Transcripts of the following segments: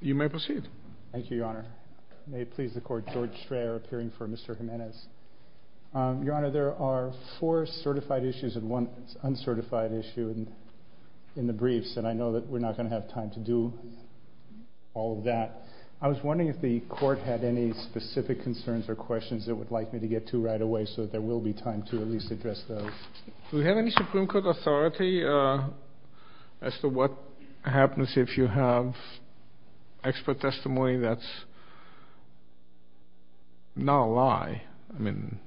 You may proceed. Thank you, Your Honor. May it please the Court, George Strayer appearing for Mr. Gimenez. Your Honor, there are four certified issues and one uncertified issue in the briefs, and I know that we're not going to have time to do all of that. I was wondering if the Court had any specific concerns or questions it would like me to get to right away so that there will be time to at least address those. Do we have any Supreme Court authority as to what happens if you have expert testimony that's not a lie? I mean,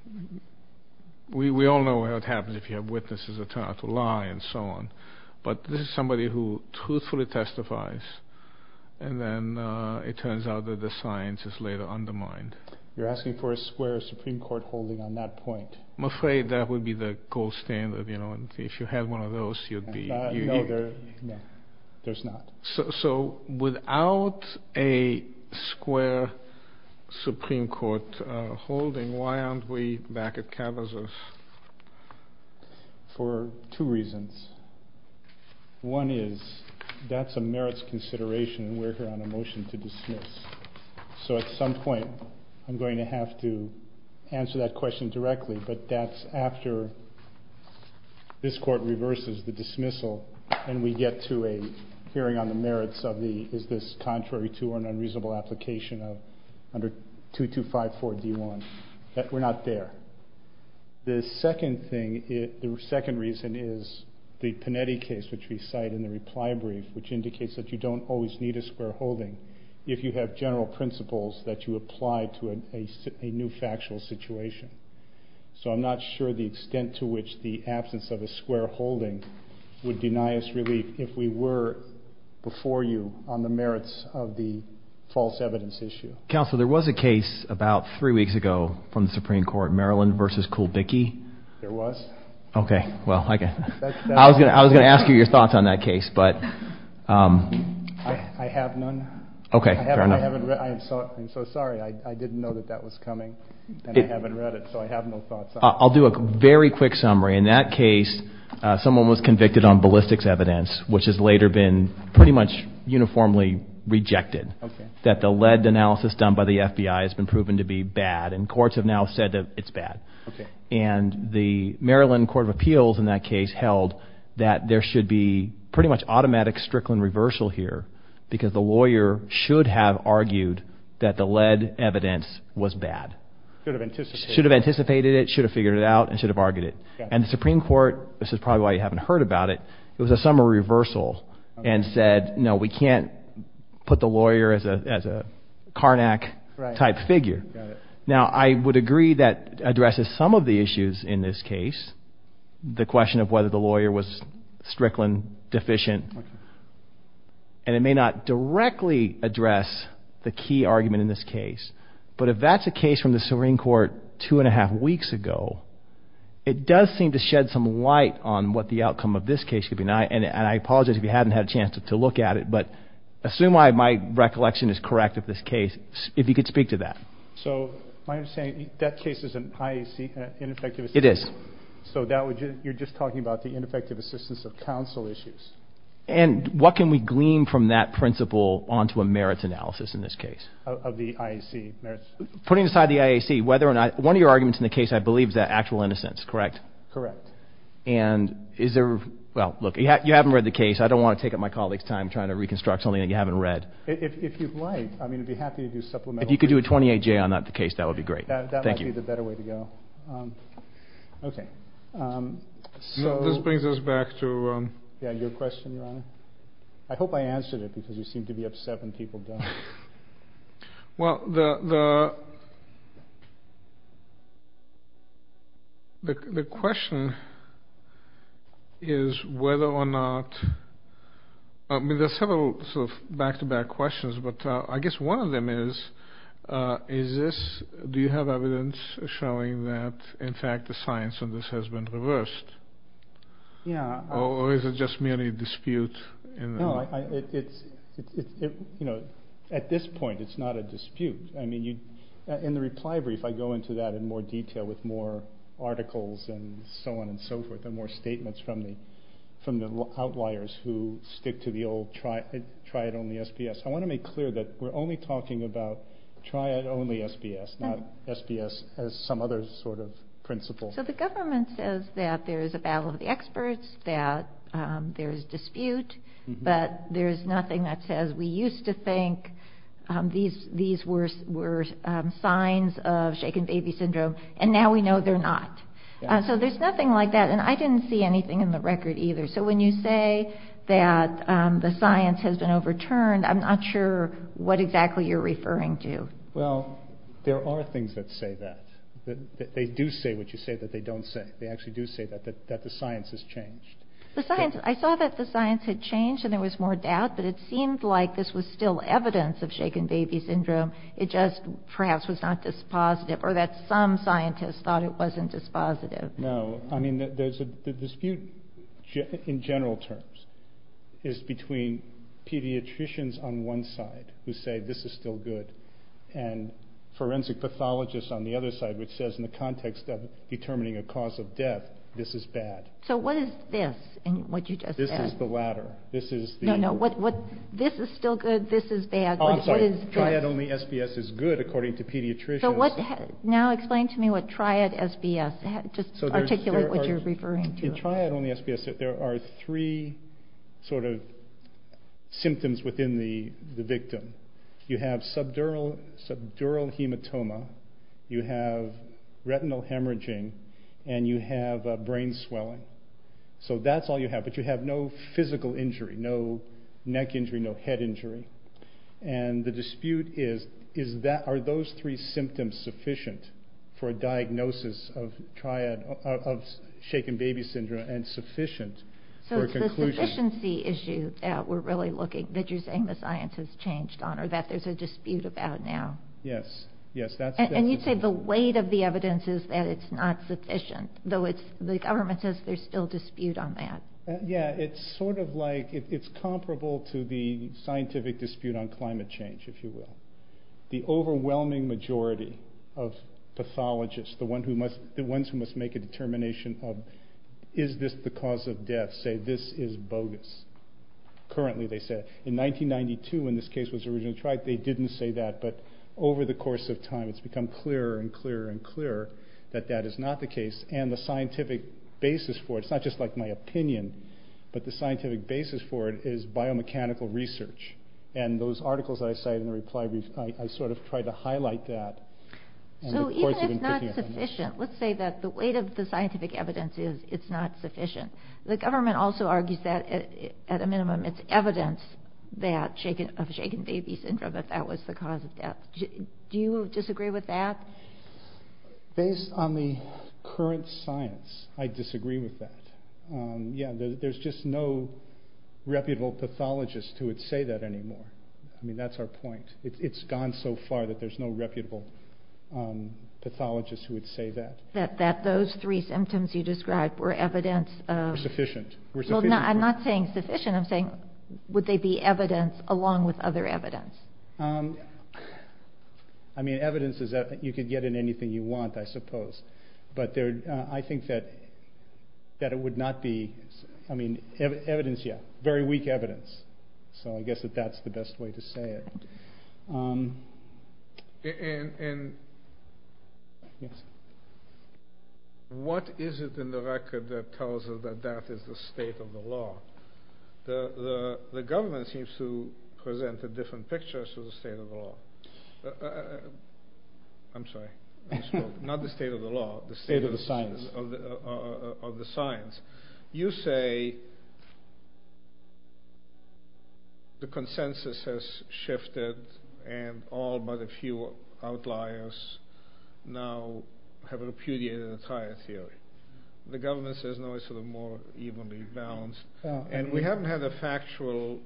we all know what happens if you have witnesses that turn out to lie and so on. But this is somebody who truthfully testifies, and then it turns out that the science is later undermined. You're asking for a square Supreme Court holding on that point? I'm afraid that would be the gold standard, you know, and if you had one of those, you'd be… No, there's not. So without a square Supreme Court holding, why aren't we back at Cavazos? For two reasons. One is that's a merits consideration and we're here on a motion to dismiss. So at some point I'm going to have to answer that question directly, but that's after this Court reverses the dismissal and we get to a hearing on the merits of the is this contrary to or an unreasonable application under 2254 D1. We're not there. The second reason is the Panetti case, which we cite in the reply brief, which indicates that you don't always need a square holding if you have general principles that you apply to a new factual situation. So I'm not sure the extent to which the absence of a square holding would deny us relief if we were before you on the merits of the false evidence issue. Counsel, there was a case about three weeks ago from the Supreme Court, Maryland v. Kulbicki. There was? Okay, well, I was going to ask you your thoughts on that case, but… I have none. Okay, fair enough. I'm so sorry. I didn't know that that was coming, and I haven't read it, so I have no thoughts on it. I'll do a very quick summary. In that case, someone was convicted on ballistics evidence, which has later been pretty much uniformly rejected, that the lead analysis done by the FBI has been proven to be bad, and courts have now said that it's bad. And the Maryland Court of Appeals in that case held that there should be a pretty much automatic Strickland reversal here because the lawyer should have argued that the lead evidence was bad. Should have anticipated it. Should have anticipated it, should have figured it out, and should have argued it. And the Supreme Court, this is probably why you haven't heard about it, it was a summary reversal and said, no, we can't put the lawyer as a Carnac-type figure. Now, I would agree that addresses some of the issues in this case, the question of whether the lawyer was Strickland-deficient, and it may not directly address the key argument in this case, but if that's a case from the Supreme Court two and a half weeks ago, it does seem to shed some light on what the outcome of this case could be. And I apologize if you haven't had a chance to look at it, but assume my recollection is correct of this case, if you could speak to that. So, my understanding, that case is an IAC, an ineffective assessment? It is. So, you're just talking about the ineffective assistance of counsel issues? And what can we glean from that principle onto a merits analysis in this case? Of the IAC merits? Putting aside the IAC, whether or not, one of your arguments in the case I believe is that actual innocence, correct? Correct. And is there, well, look, you haven't read the case, I don't want to take up my colleague's time trying to reconstruct something that you haven't read. If you'd like, I mean, I'd be happy to do supplemental research. If you could do a 28-J on that case, that would be great. Thank you. That might be the better way to go. Okay. So, this brings us back to... Yeah, your question, Your Honor. I hope I answered it because you seem to be upset when people don't. Well, the question is whether or not... I mean, there are several sort of back-to-back questions, but I guess one of them is, is this... Do you have evidence showing that, in fact, the science on this has been reversed? Yeah. Or is it just merely a dispute? No, it's... You know, at this point, it's not a dispute. I mean, in the reply brief, I go into that in more detail with more articles and so on and so forth and more statements from the outliers who stick to the old try it only SPS. I want to make clear that we're only talking about try it only SPS, not SPS as some other sort of principle. So, the government says that there is a battle of the experts, that there is dispute, but there is nothing that says we used to think these were signs of shaken baby syndrome, and now we know they're not. So, there's nothing like that, and I didn't see anything in the record either. So, when you say that the science has been overturned, I'm not sure what exactly you're referring to. Well, there are things that say that. They do say what you say that they don't say. They actually do say that, that the science has changed. I saw that the science had changed and there was more doubt, but it seemed like this was still evidence of shaken baby syndrome. It just perhaps was not dispositive, or that some scientists thought it wasn't dispositive. No, I mean, the dispute in general terms is between pediatricians on one side who say this is still good and forensic pathologists on the other side, which says in the context of determining a cause of death, this is bad. So, what is this in what you just said? This is the latter. No, no, this is still good, this is bad. I'm sorry, try it only SPS is good according to pediatricians. Now explain to me what try it SPS, just articulate what you're referring to. In try it only SPS, there are three sort of symptoms within the victim. You have subdural hematoma, you have retinal hemorrhaging, and you have brain swelling. So, that's all you have, but you have no physical injury, no neck injury, no head injury. And the dispute is, are those three symptoms sufficient for a diagnosis of shaken baby syndrome and sufficient for a conclusion? So, it's the sufficiency issue that we're really looking, that you're saying the science has changed on, or that there's a dispute about now. Yes, yes. And you say the weight of the evidence is that it's not sufficient, though the government says there's still dispute on that. Yeah, it's sort of like, it's comparable to the scientific dispute on climate change, if you will. The overwhelming majority of pathologists, the ones who must make a determination of, is this the cause of death, say this is bogus. Currently, they say. In 1992, when this case was originally tried, they didn't say that, but over the course of time, it's become clearer and clearer and clearer that that is not the case. And the scientific basis for it, it's not just like my opinion, but the scientific basis for it is biomechanical research. And those articles that I cite in the reply, I sort of try to highlight that. So, even if it's not sufficient, let's say that the weight of the scientific evidence is it's not sufficient. The government also argues that, at a minimum, it's evidence of shaken baby syndrome, that that was the cause of death. Do you disagree with that? Based on the current science, I disagree with that. Yeah, there's just no reputable pathologist who would say that anymore. I mean, that's our point. It's gone so far that there's no reputable pathologist who would say that. That those three symptoms you described were evidence of. Were sufficient. I'm not saying sufficient, I'm saying, would they be evidence along with other evidence? I mean, evidence is that you can get in anything you want, I suppose. But, I think that it would not be, I mean, evidence, yeah, very weak evidence. So, I guess that that's the best way to say it. What is it in the record that tells us that that is the state of the law? The government seems to present a different picture of the state of the law. I'm sorry. Not the state of the law. The state of the science. Of the science. You say the consensus has shifted and all but a few outliers now have repudiated the entire theory. The government says no, it's sort of more evenly balanced. And we haven't had a factual,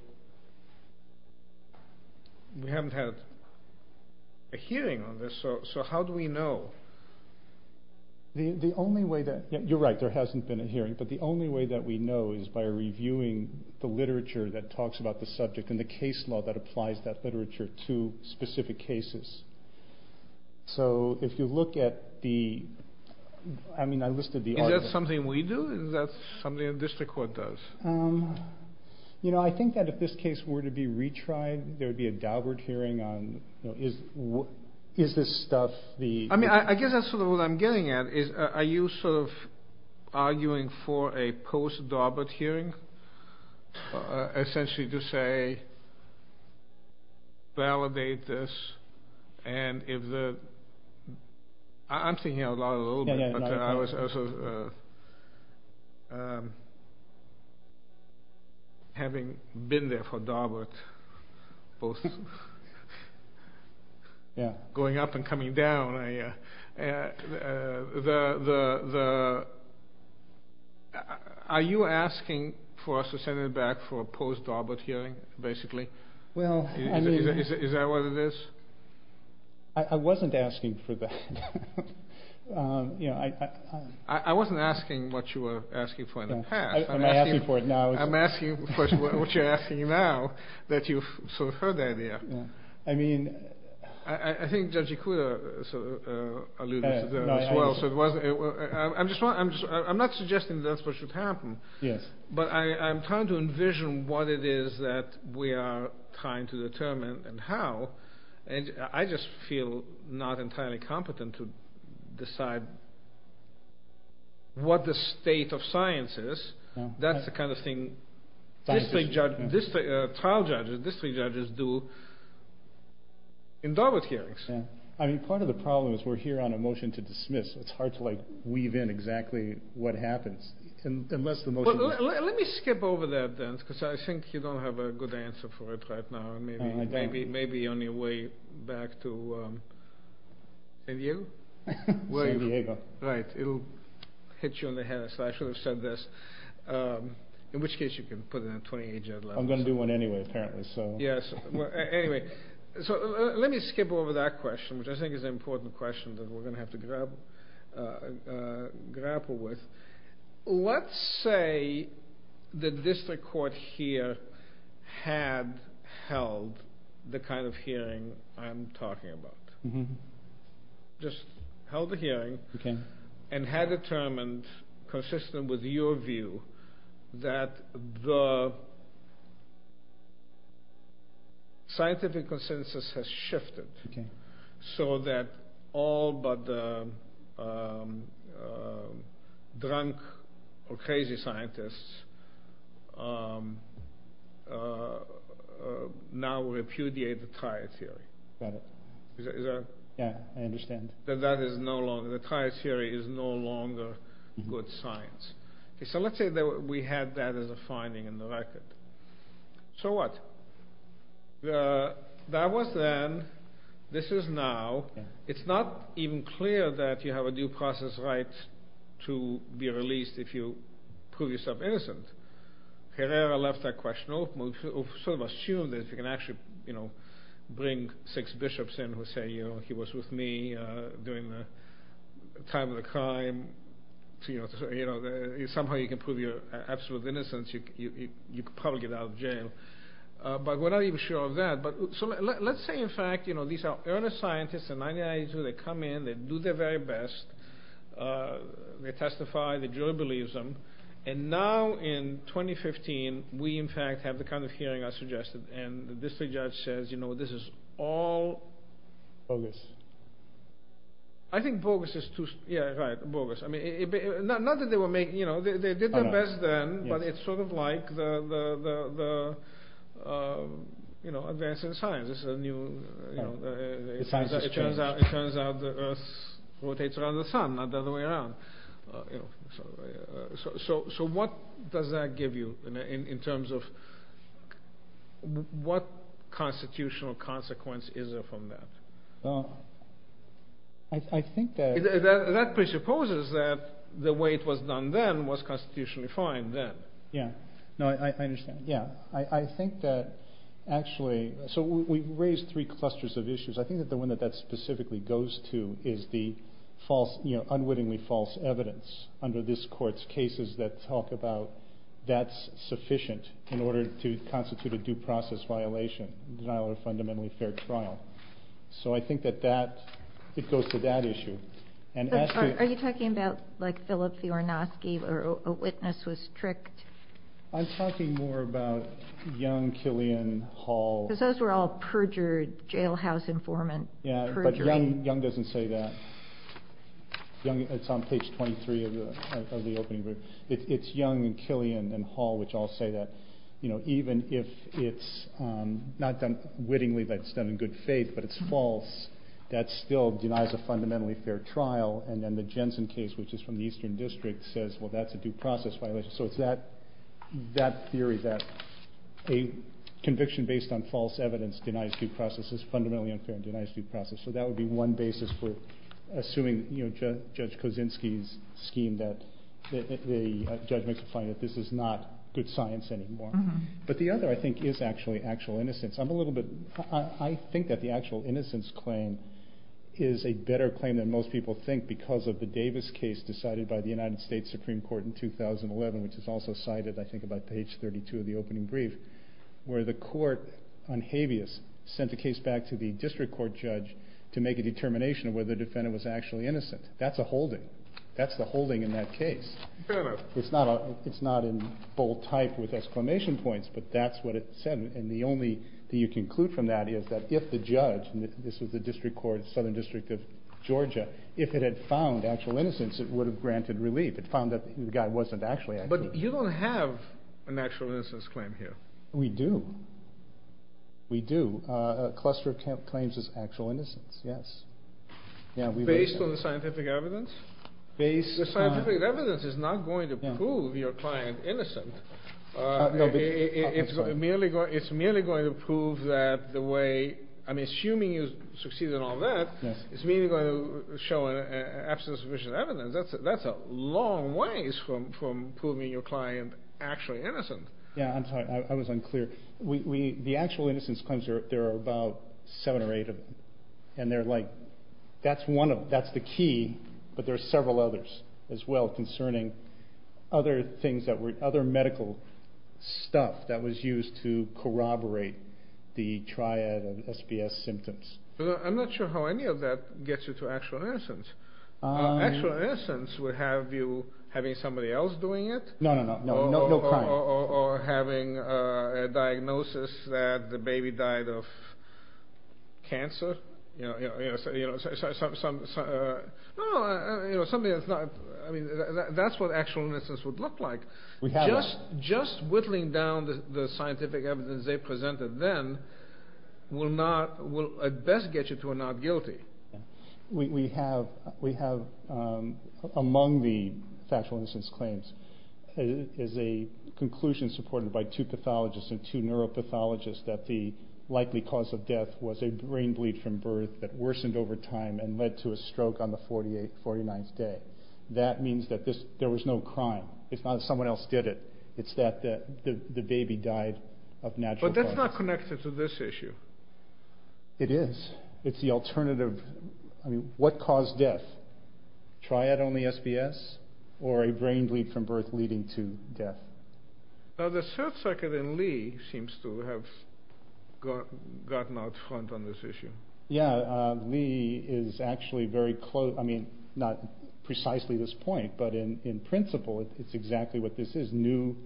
we haven't had a hearing on this, so how do we know? The only way that, you're right, there hasn't been a hearing. But the only way that we know is by reviewing the literature that talks about the subject and the case law that applies that literature to specific cases. So, if you look at the, I mean, I listed the argument. Is that something we do? Is that something the district court does? You know, I think that if this case were to be retried, there would be a Daubert hearing on, is this stuff the... I mean, I guess that's sort of what I'm getting at. Are you sort of arguing for a post-Daubert hearing? Essentially to say, validate this and if the... I'm thinking out loud a little bit, but I was also... Having been there for Daubert, both... Are you asking for us to send it back for a post-Daubert hearing, basically? Well, I mean... Is that what it is? I wasn't asking for that. I wasn't asking what you were asking for in the past. I'm asking for it now. I'm asking, of course, what you're asking now, that you've sort of heard the idea. I mean... I think Judge Ikuda alluded to that as well. I'm not suggesting that's what should happen. Yes. But I'm trying to envision what it is that we are trying to determine and how. And I just feel not entirely competent to decide what the state of science is. That's the kind of thing trial judges, district judges do. In Daubert hearings. I mean, part of the problem is we're here on a motion to dismiss. It's hard to weave in exactly what happens. Let me skip over that then, because I think you don't have a good answer for it right now. I don't. Maybe on your way back to... San Diego? San Diego. Right. It'll hit you on the head. I should have said this. In which case you can put in a 28-judge letter. I'm going to do one anyway, apparently. Yes. Anyway. Let me skip over that question, which I think is an important question that we're going to have to grapple with. Let's say the district court here had held the kind of hearing I'm talking about. Just held the hearing and had determined, consistent with your view, that the scientific consensus has shifted, so that all but the drunk or crazy scientists now repudiate the trial theory. Got it. Yeah, I understand. That the trial theory is no longer good science. So let's say that we had that as a finding in the record. So what? That was then. This is now. It's not even clear that you have a due process right to be released if you prove yourself innocent. Herrera left that question open. Sort of assumed that if you can actually bring six bishops in who say, he was with me during the time of the crime, somehow you can prove your absolute innocence, you could probably get out of jail. But we're not even sure of that. So let's say in fact these are early scientists in 1992. They come in. They do their very best. They testify. The jury believes them. And now in 2015, we in fact have the kind of hearing I suggested. And the district judge says, you know, this is all… Bogus. I think bogus is too… Yeah, right. Bogus. Not that they were making… They did their best then, but it's sort of like the advance in science. It's a new… The science has changed. It turns out the earth rotates around the sun, not the other way around. So what does that give you in terms of what constitutional consequence is there from that? I think that… That presupposes that the way it was done then was constitutionally fine then. Yeah. No, I understand. Yeah. I think that actually… So we've raised three clusters of issues. I think that the one that that specifically goes to is the false… You know, unwittingly false evidence under this court's cases that talk about that's sufficient in order to constitute a due process violation, denial of a fundamentally fair trial. So I think that that… It goes to that issue. And as to… Are you talking about, like, Philip Fiorinowski where a witness was tricked? I'm talking more about Young, Killian, Hall. Because those were all perjured jailhouse informant perjury. Yeah, but Young doesn't say that. Young… It's on page 23 of the opening group. It's Young and Killian and Hall which all say that, you know, even if it's not done wittingly, that's done in good faith, but it's false, that still denies a fundamentally fair trial. And then the Jensen case, which is from the Eastern District, says, well, that's a due process violation. So it's that theory that a conviction based on false evidence denies due process is fundamentally unfair and denies due process. So that would be one basis for assuming, you know, Judge Kosinski's scheme that the judge makes a fine that this is not good science anymore. But the other, I think, is actually actual innocence. I'm a little bit, I think that the actual innocence claim is a better claim than most people think because of the Davis case decided by the United States Supreme Court in 2011, which is also cited, I think, about page 32 of the opening brief, where the court on habeas sent the case back to the district court judge to make a determination of whether the defendant was actually innocent. That's a holding. That's the holding in that case. Fair enough. It's not in bold type with exclamation points, but that's what it said. And the only thing you can conclude from that is that if the judge, and this was the district court, Southern District of Georgia, if it had found actual innocence, it would have granted relief. It found that the guy wasn't actually innocent. But you don't have an actual innocence claim here. We do. We do. A cluster of claims is actual innocence, yes. Based on the scientific evidence? The scientific evidence is not going to prove your client innocent. It's merely going to prove that the way, I'm assuming you succeeded in all that, it's merely going to show an absence of sufficient evidence. That's a long ways from proving your client actually innocent. Yeah, I'm sorry. I was unclear. The actual innocence claims, there are about seven or eight of them. That's the key, but there are several others as well concerning other medical stuff that was used to corroborate the triad of SPS symptoms. I'm not sure how any of that gets you to actual innocence. Actual innocence would have you having somebody else doing it? No, no, no. No crime. Or having a diagnosis that the baby died of cancer? You know, something that's not, I mean, that's what actual innocence would look like. We have that. Just whittling down the scientific evidence they presented then will at best get you to a not guilty. We have among the actual innocence claims is a conclusion supported by two pathologists and two neuropathologists that the likely cause of death was a brain bleed from birth that worsened over time and led to a stroke on the 48th, 49th day. That means that there was no crime. It's not that someone else did it. It's that the baby died of natural causes. But that's not connected to this issue. It is. It's the alternative. I mean, what caused death? Triad-only SPS or a brain bleed from birth leading to death? Now, the search circuit in Lee seems to have gotten out front on this issue. Yeah. Lee is actually very close. I mean, not precisely this point. But in principle, it's exactly what this is. New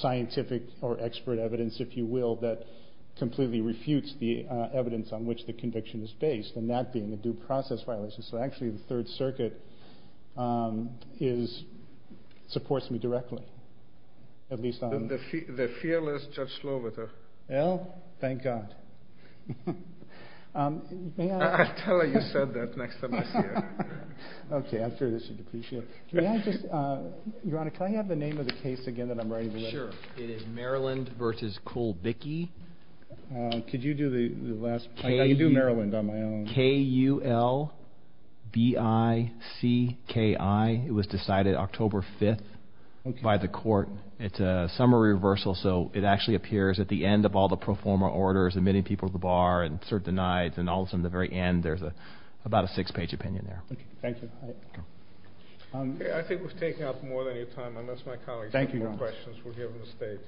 scientific or expert evidence, if you will, that completely refutes the evidence on which the conviction is based. And that being a due process violation. So, actually, the third circuit supports me directly. The fearless Judge Sloboda. Well, thank God. I'll tell her you said that next time I see her. Okay. I'm sure that she'd appreciate it. Your Honor, can I have the name of the case again that I'm writing? Sure. It is Maryland v. Kulbicki. Could you do the last part? I can do Maryland on my own. K-U-L-B-I-C-K-I. It was decided October 5th by the court. It's a summary reversal. So, it actually appears at the end of all the pro forma orders, admitting people to the bar, and sort of denied, and all of a sudden, at the very end, there's about a six-page opinion there. Okay. Thank you. I think we've taken up more than your time. Unless my colleagues have more questions, we'll give them the stage.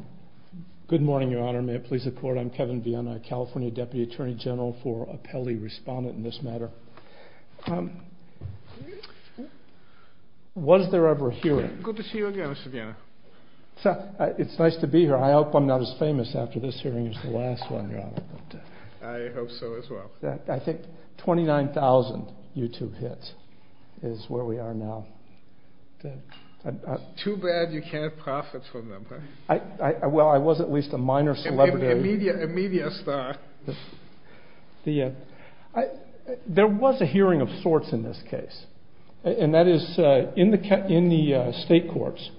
Thank you, Your Honor. Good morning, Your Honor. May it please the Court. I'm Kevin Viena, California Deputy Attorney General for Appellee Respondent in this matter. Was there ever a hearing? Good to see you again, Mr. Viena. It's nice to be here. I hope I'm not as famous after this hearing as the last one, Your Honor. I hope so as well. I think 29,000 YouTube hits is where we are now. Too bad you can't profit from them. Well, I was at least a minor celebrity. A media star. There was a hearing of sorts in this case, and that is in the state courts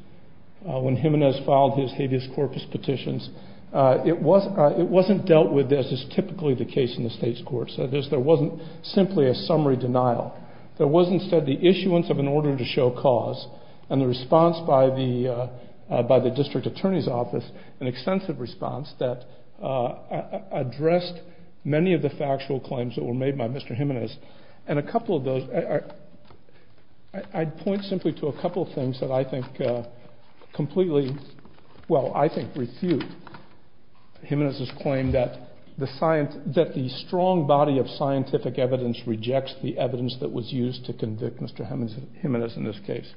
when Jimenez filed his habeas corpus petitions. It wasn't dealt with as is typically the case in the state's courts. There wasn't simply a summary denial. There was instead the issuance of an order to show cause and the response by the district attorney's office, an extensive response that addressed many of the factual claims that were made by Mr. Jimenez. And a couple of those, I'd point simply to a couple of things that I think completely, well, I think refute Jimenez's claim that the strong body of scientific evidence rejects the evidence that was used to convict Mr. Jimenez in this case.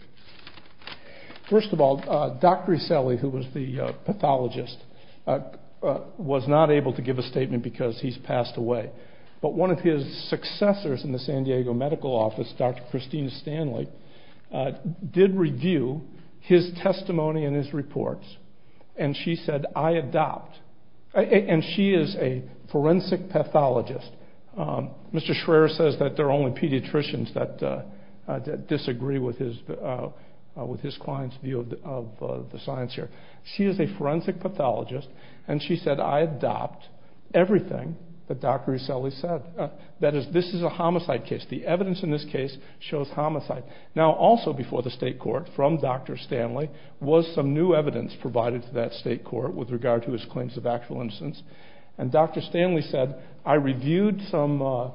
First of all, Dr. Iselli, who was the pathologist, was not able to give a statement because he's passed away. But one of his successors in the San Diego medical office, Dr. Christina Stanley, did review his testimony and his reports. And she said, I adopt. And she is a forensic pathologist. Mr. Schreier says that there are only pediatricians that disagree with his client's view of the science here. She is a forensic pathologist. And she said, I adopt everything that Dr. Iselli said. That is, this is a homicide case. The evidence in this case shows homicide. Now, also before the state court, from Dr. Stanley, was some new evidence provided to that state court with regard to his claims of actual innocence. And Dr. Stanley said, I reviewed some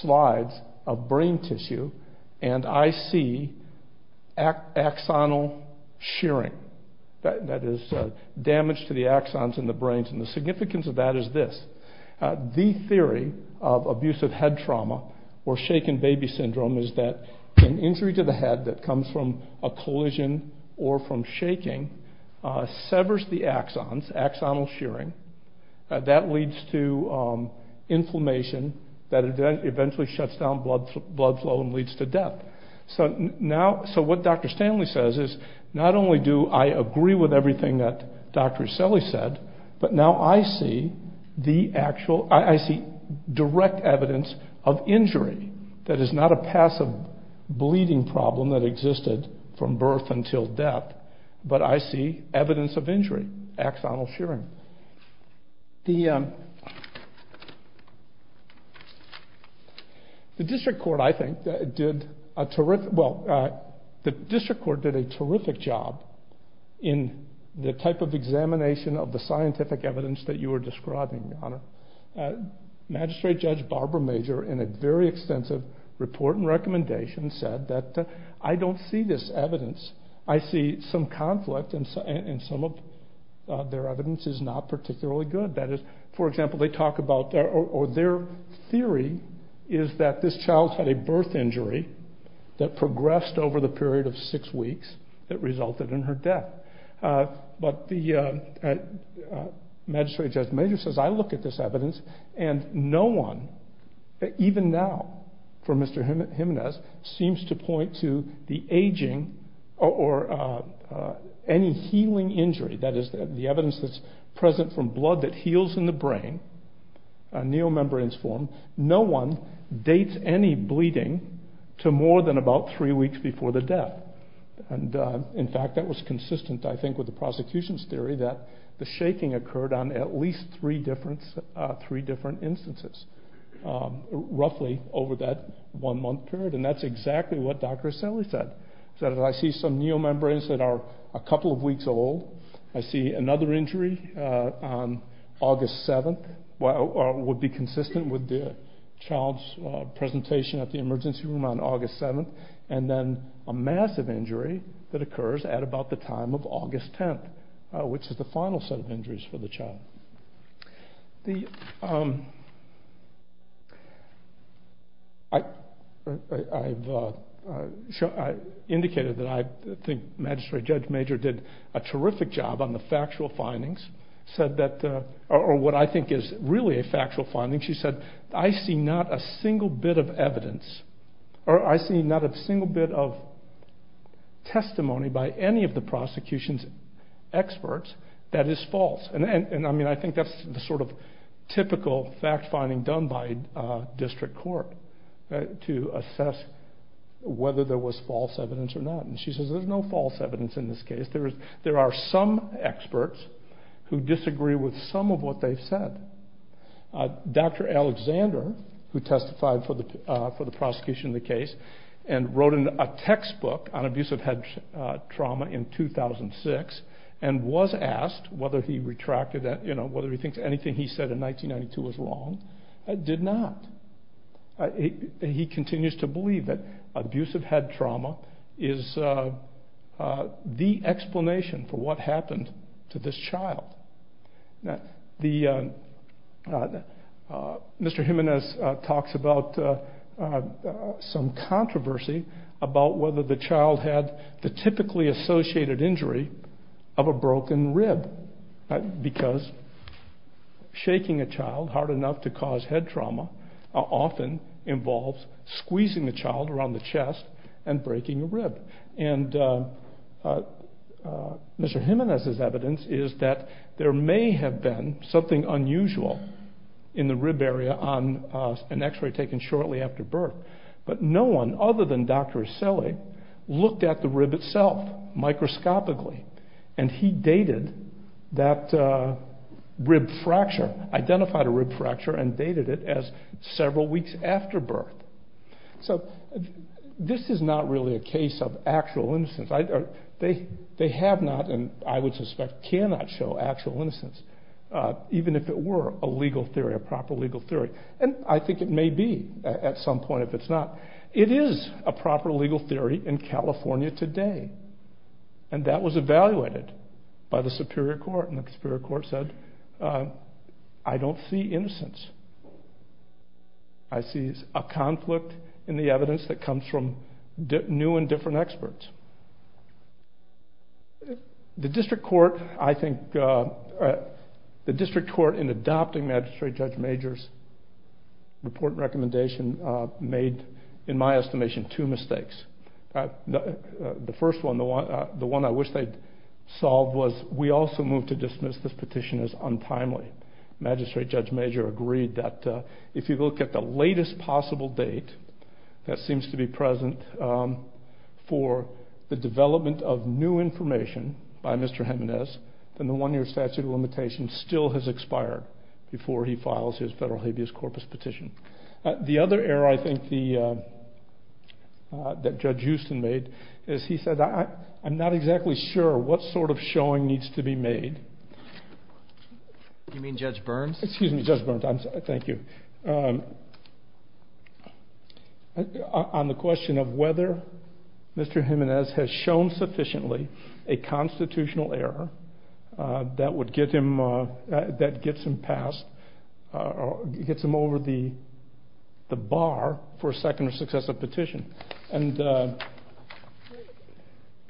slides of brain tissue, and I see axonal shearing. That is, damage to the axons in the brains. And the significance of that is this. The theory of abusive head trauma, or shaken baby syndrome, is that an injury to the head that comes from a collision or from shaking, severs the axons, axonal shearing. That leads to inflammation that eventually shuts down blood flow and leads to death. So what Dr. Stanley says is, not only do I agree with everything that Dr. Iselli said, but now I see direct evidence of injury that is not a passive bleeding problem that existed from birth until death. But I see evidence of injury, axonal shearing. The district court, I think, did a terrific job in the type of examination of the scientific evidence that you were describing, Your Honor. Magistrate Judge Barbara Major, in a very extensive report and recommendation, said that I don't see this evidence. I see some conflict, and some of their evidence is not particularly good. That is, for example, their theory is that this child had a birth injury that progressed over the period of six weeks that resulted in her death. But the Magistrate Judge Major says, I look at this evidence, and no one, even now, for Mr. Jimenez, seems to point to the aging or any healing injury. That is, the evidence that's present from blood that heals in the brain, a neomembrane's form, no one dates any bleeding to more than about three weeks before the death. In fact, that was consistent, I think, with the prosecution's theory that the shaking occurred on at least three different instances, roughly over that one month period. And that's exactly what Dr. Ascelli said. He said, I see some neomembranes that are a couple of weeks old. I see another injury on August 7th. It would be consistent with the child's presentation at the emergency room on August 7th. And then a massive injury that occurs at about the time of August 10th, which is the final set of injuries for the child. I've indicated that I think Magistrate Judge Major did a terrific job on the factual findings, or what I think is really a factual finding. She said, I see not a single bit of evidence, or I see not a single bit of testimony by any of the prosecution's experts that is false. And I think that's the sort of typical fact-finding done by district court to assess whether there was false evidence or not. And she says, there's no false evidence in this case. There are some experts who disagree with some of what they've said. Dr. Alexander, who testified for the prosecution in the case, and wrote a textbook on abusive head trauma in 2006, and was asked whether he retracted that, you know, whether he thinks anything he said in 1992 was wrong, did not. He continues to believe that abusive head trauma is the explanation for what happened to this child. Mr. Jimenez talks about some controversy about whether the child had the typically associated injury of a broken rib, because shaking a child hard enough to cause head trauma often involves squeezing the child around the chest and breaking a rib. And Mr. Jimenez's evidence is that there may have been something unusual in the rib area on an x-ray taken shortly after birth. But no one, other than Dr. Asili, looked at the rib itself, microscopically. And he dated that rib fracture, identified a rib fracture, and dated it as several weeks after birth. So this is not really a case of actual innocence. They have not, and I would suspect cannot, show actual innocence, even if it were a legal theory, a proper legal theory. And I think it may be at some point if it's not. It is a proper legal theory in California today, and that was evaluated by the Superior Court. And the Superior Court said, I don't see innocence. I see a conflict in the evidence that comes from new and different experts. The District Court in adopting Magistrate Judge Major's report and recommendation made, in my estimation, two mistakes. The first one, the one I wish they'd solved, was we also moved to dismiss this petition as untimely. Magistrate Judge Major agreed that if you look at the latest possible date that seems to be present for the development of new information by Mr. Jimenez, then the one-year statute of limitations still has expired before he files his federal habeas corpus petition. The other error I think that Judge Houston made is he said, I'm not exactly sure what sort of showing needs to be made. You mean Judge Burns? Excuse me, Judge Burns. I'm sorry. Thank you. On the question of whether Mr. Jimenez has shown sufficiently a constitutional error that gets him over the bar for a second or successive petition.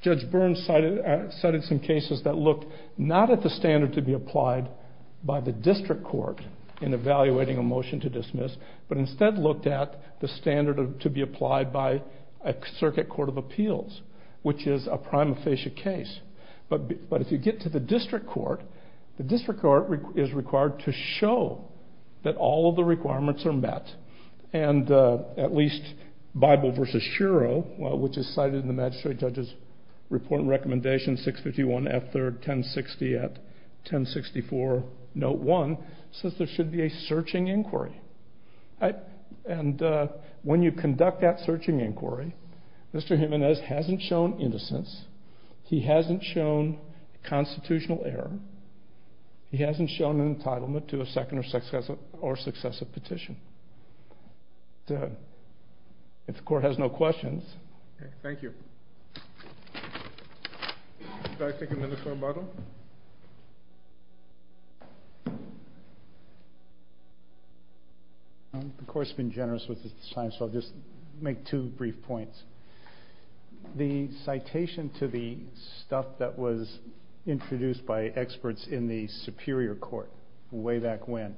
Judge Burns cited some cases that looked not at the standard to be applied by the District Court in evaluating a motion to dismiss, but instead looked at the standard to be applied by a circuit court of appeals, which is a prima facie case. But if you get to the District Court, the District Court is required to show that all of the requirements are met, and at least Bible v. Shuro, which is cited in the Magistrate Judge's report and recommendation 651 F. 3rd 1060 at 1064 note 1, says there should be a searching inquiry. And when you conduct that searching inquiry, Mr. Jimenez hasn't shown innocence. He hasn't shown constitutional error. He hasn't shown an entitlement to a second or successive petition. If the Court has no questions. Thank you. Could I take a minute for a moment? The Court's been generous with its time, so I'll just make two brief points. The citation to the stuff that was introduced by experts in the Superior Court way back when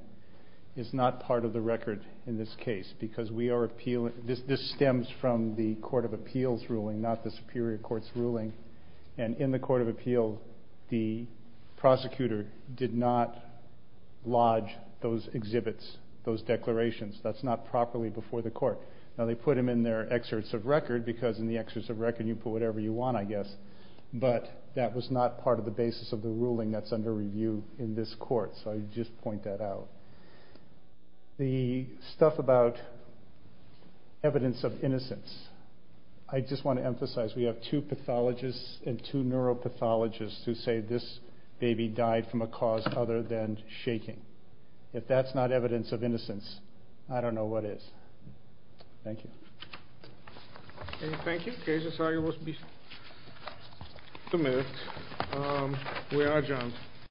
is not part of the record in this case, because this stems from the Court of Appeals ruling, not the Superior Court's ruling. And in the Court of Appeal, the prosecutor did not lodge those exhibits, those declarations. Now, they put them in their excerpts of record, because in the excerpts of record you put whatever you want, I guess. But that was not part of the basis of the ruling that's under review in this Court, so I just point that out. The stuff about evidence of innocence. I just want to emphasize we have two pathologists and two neuropathologists who say this baby died from a cause other than shaking. If that's not evidence of innocence, I don't know what is. Thank you. Thank you. Two minutes. We are adjourned.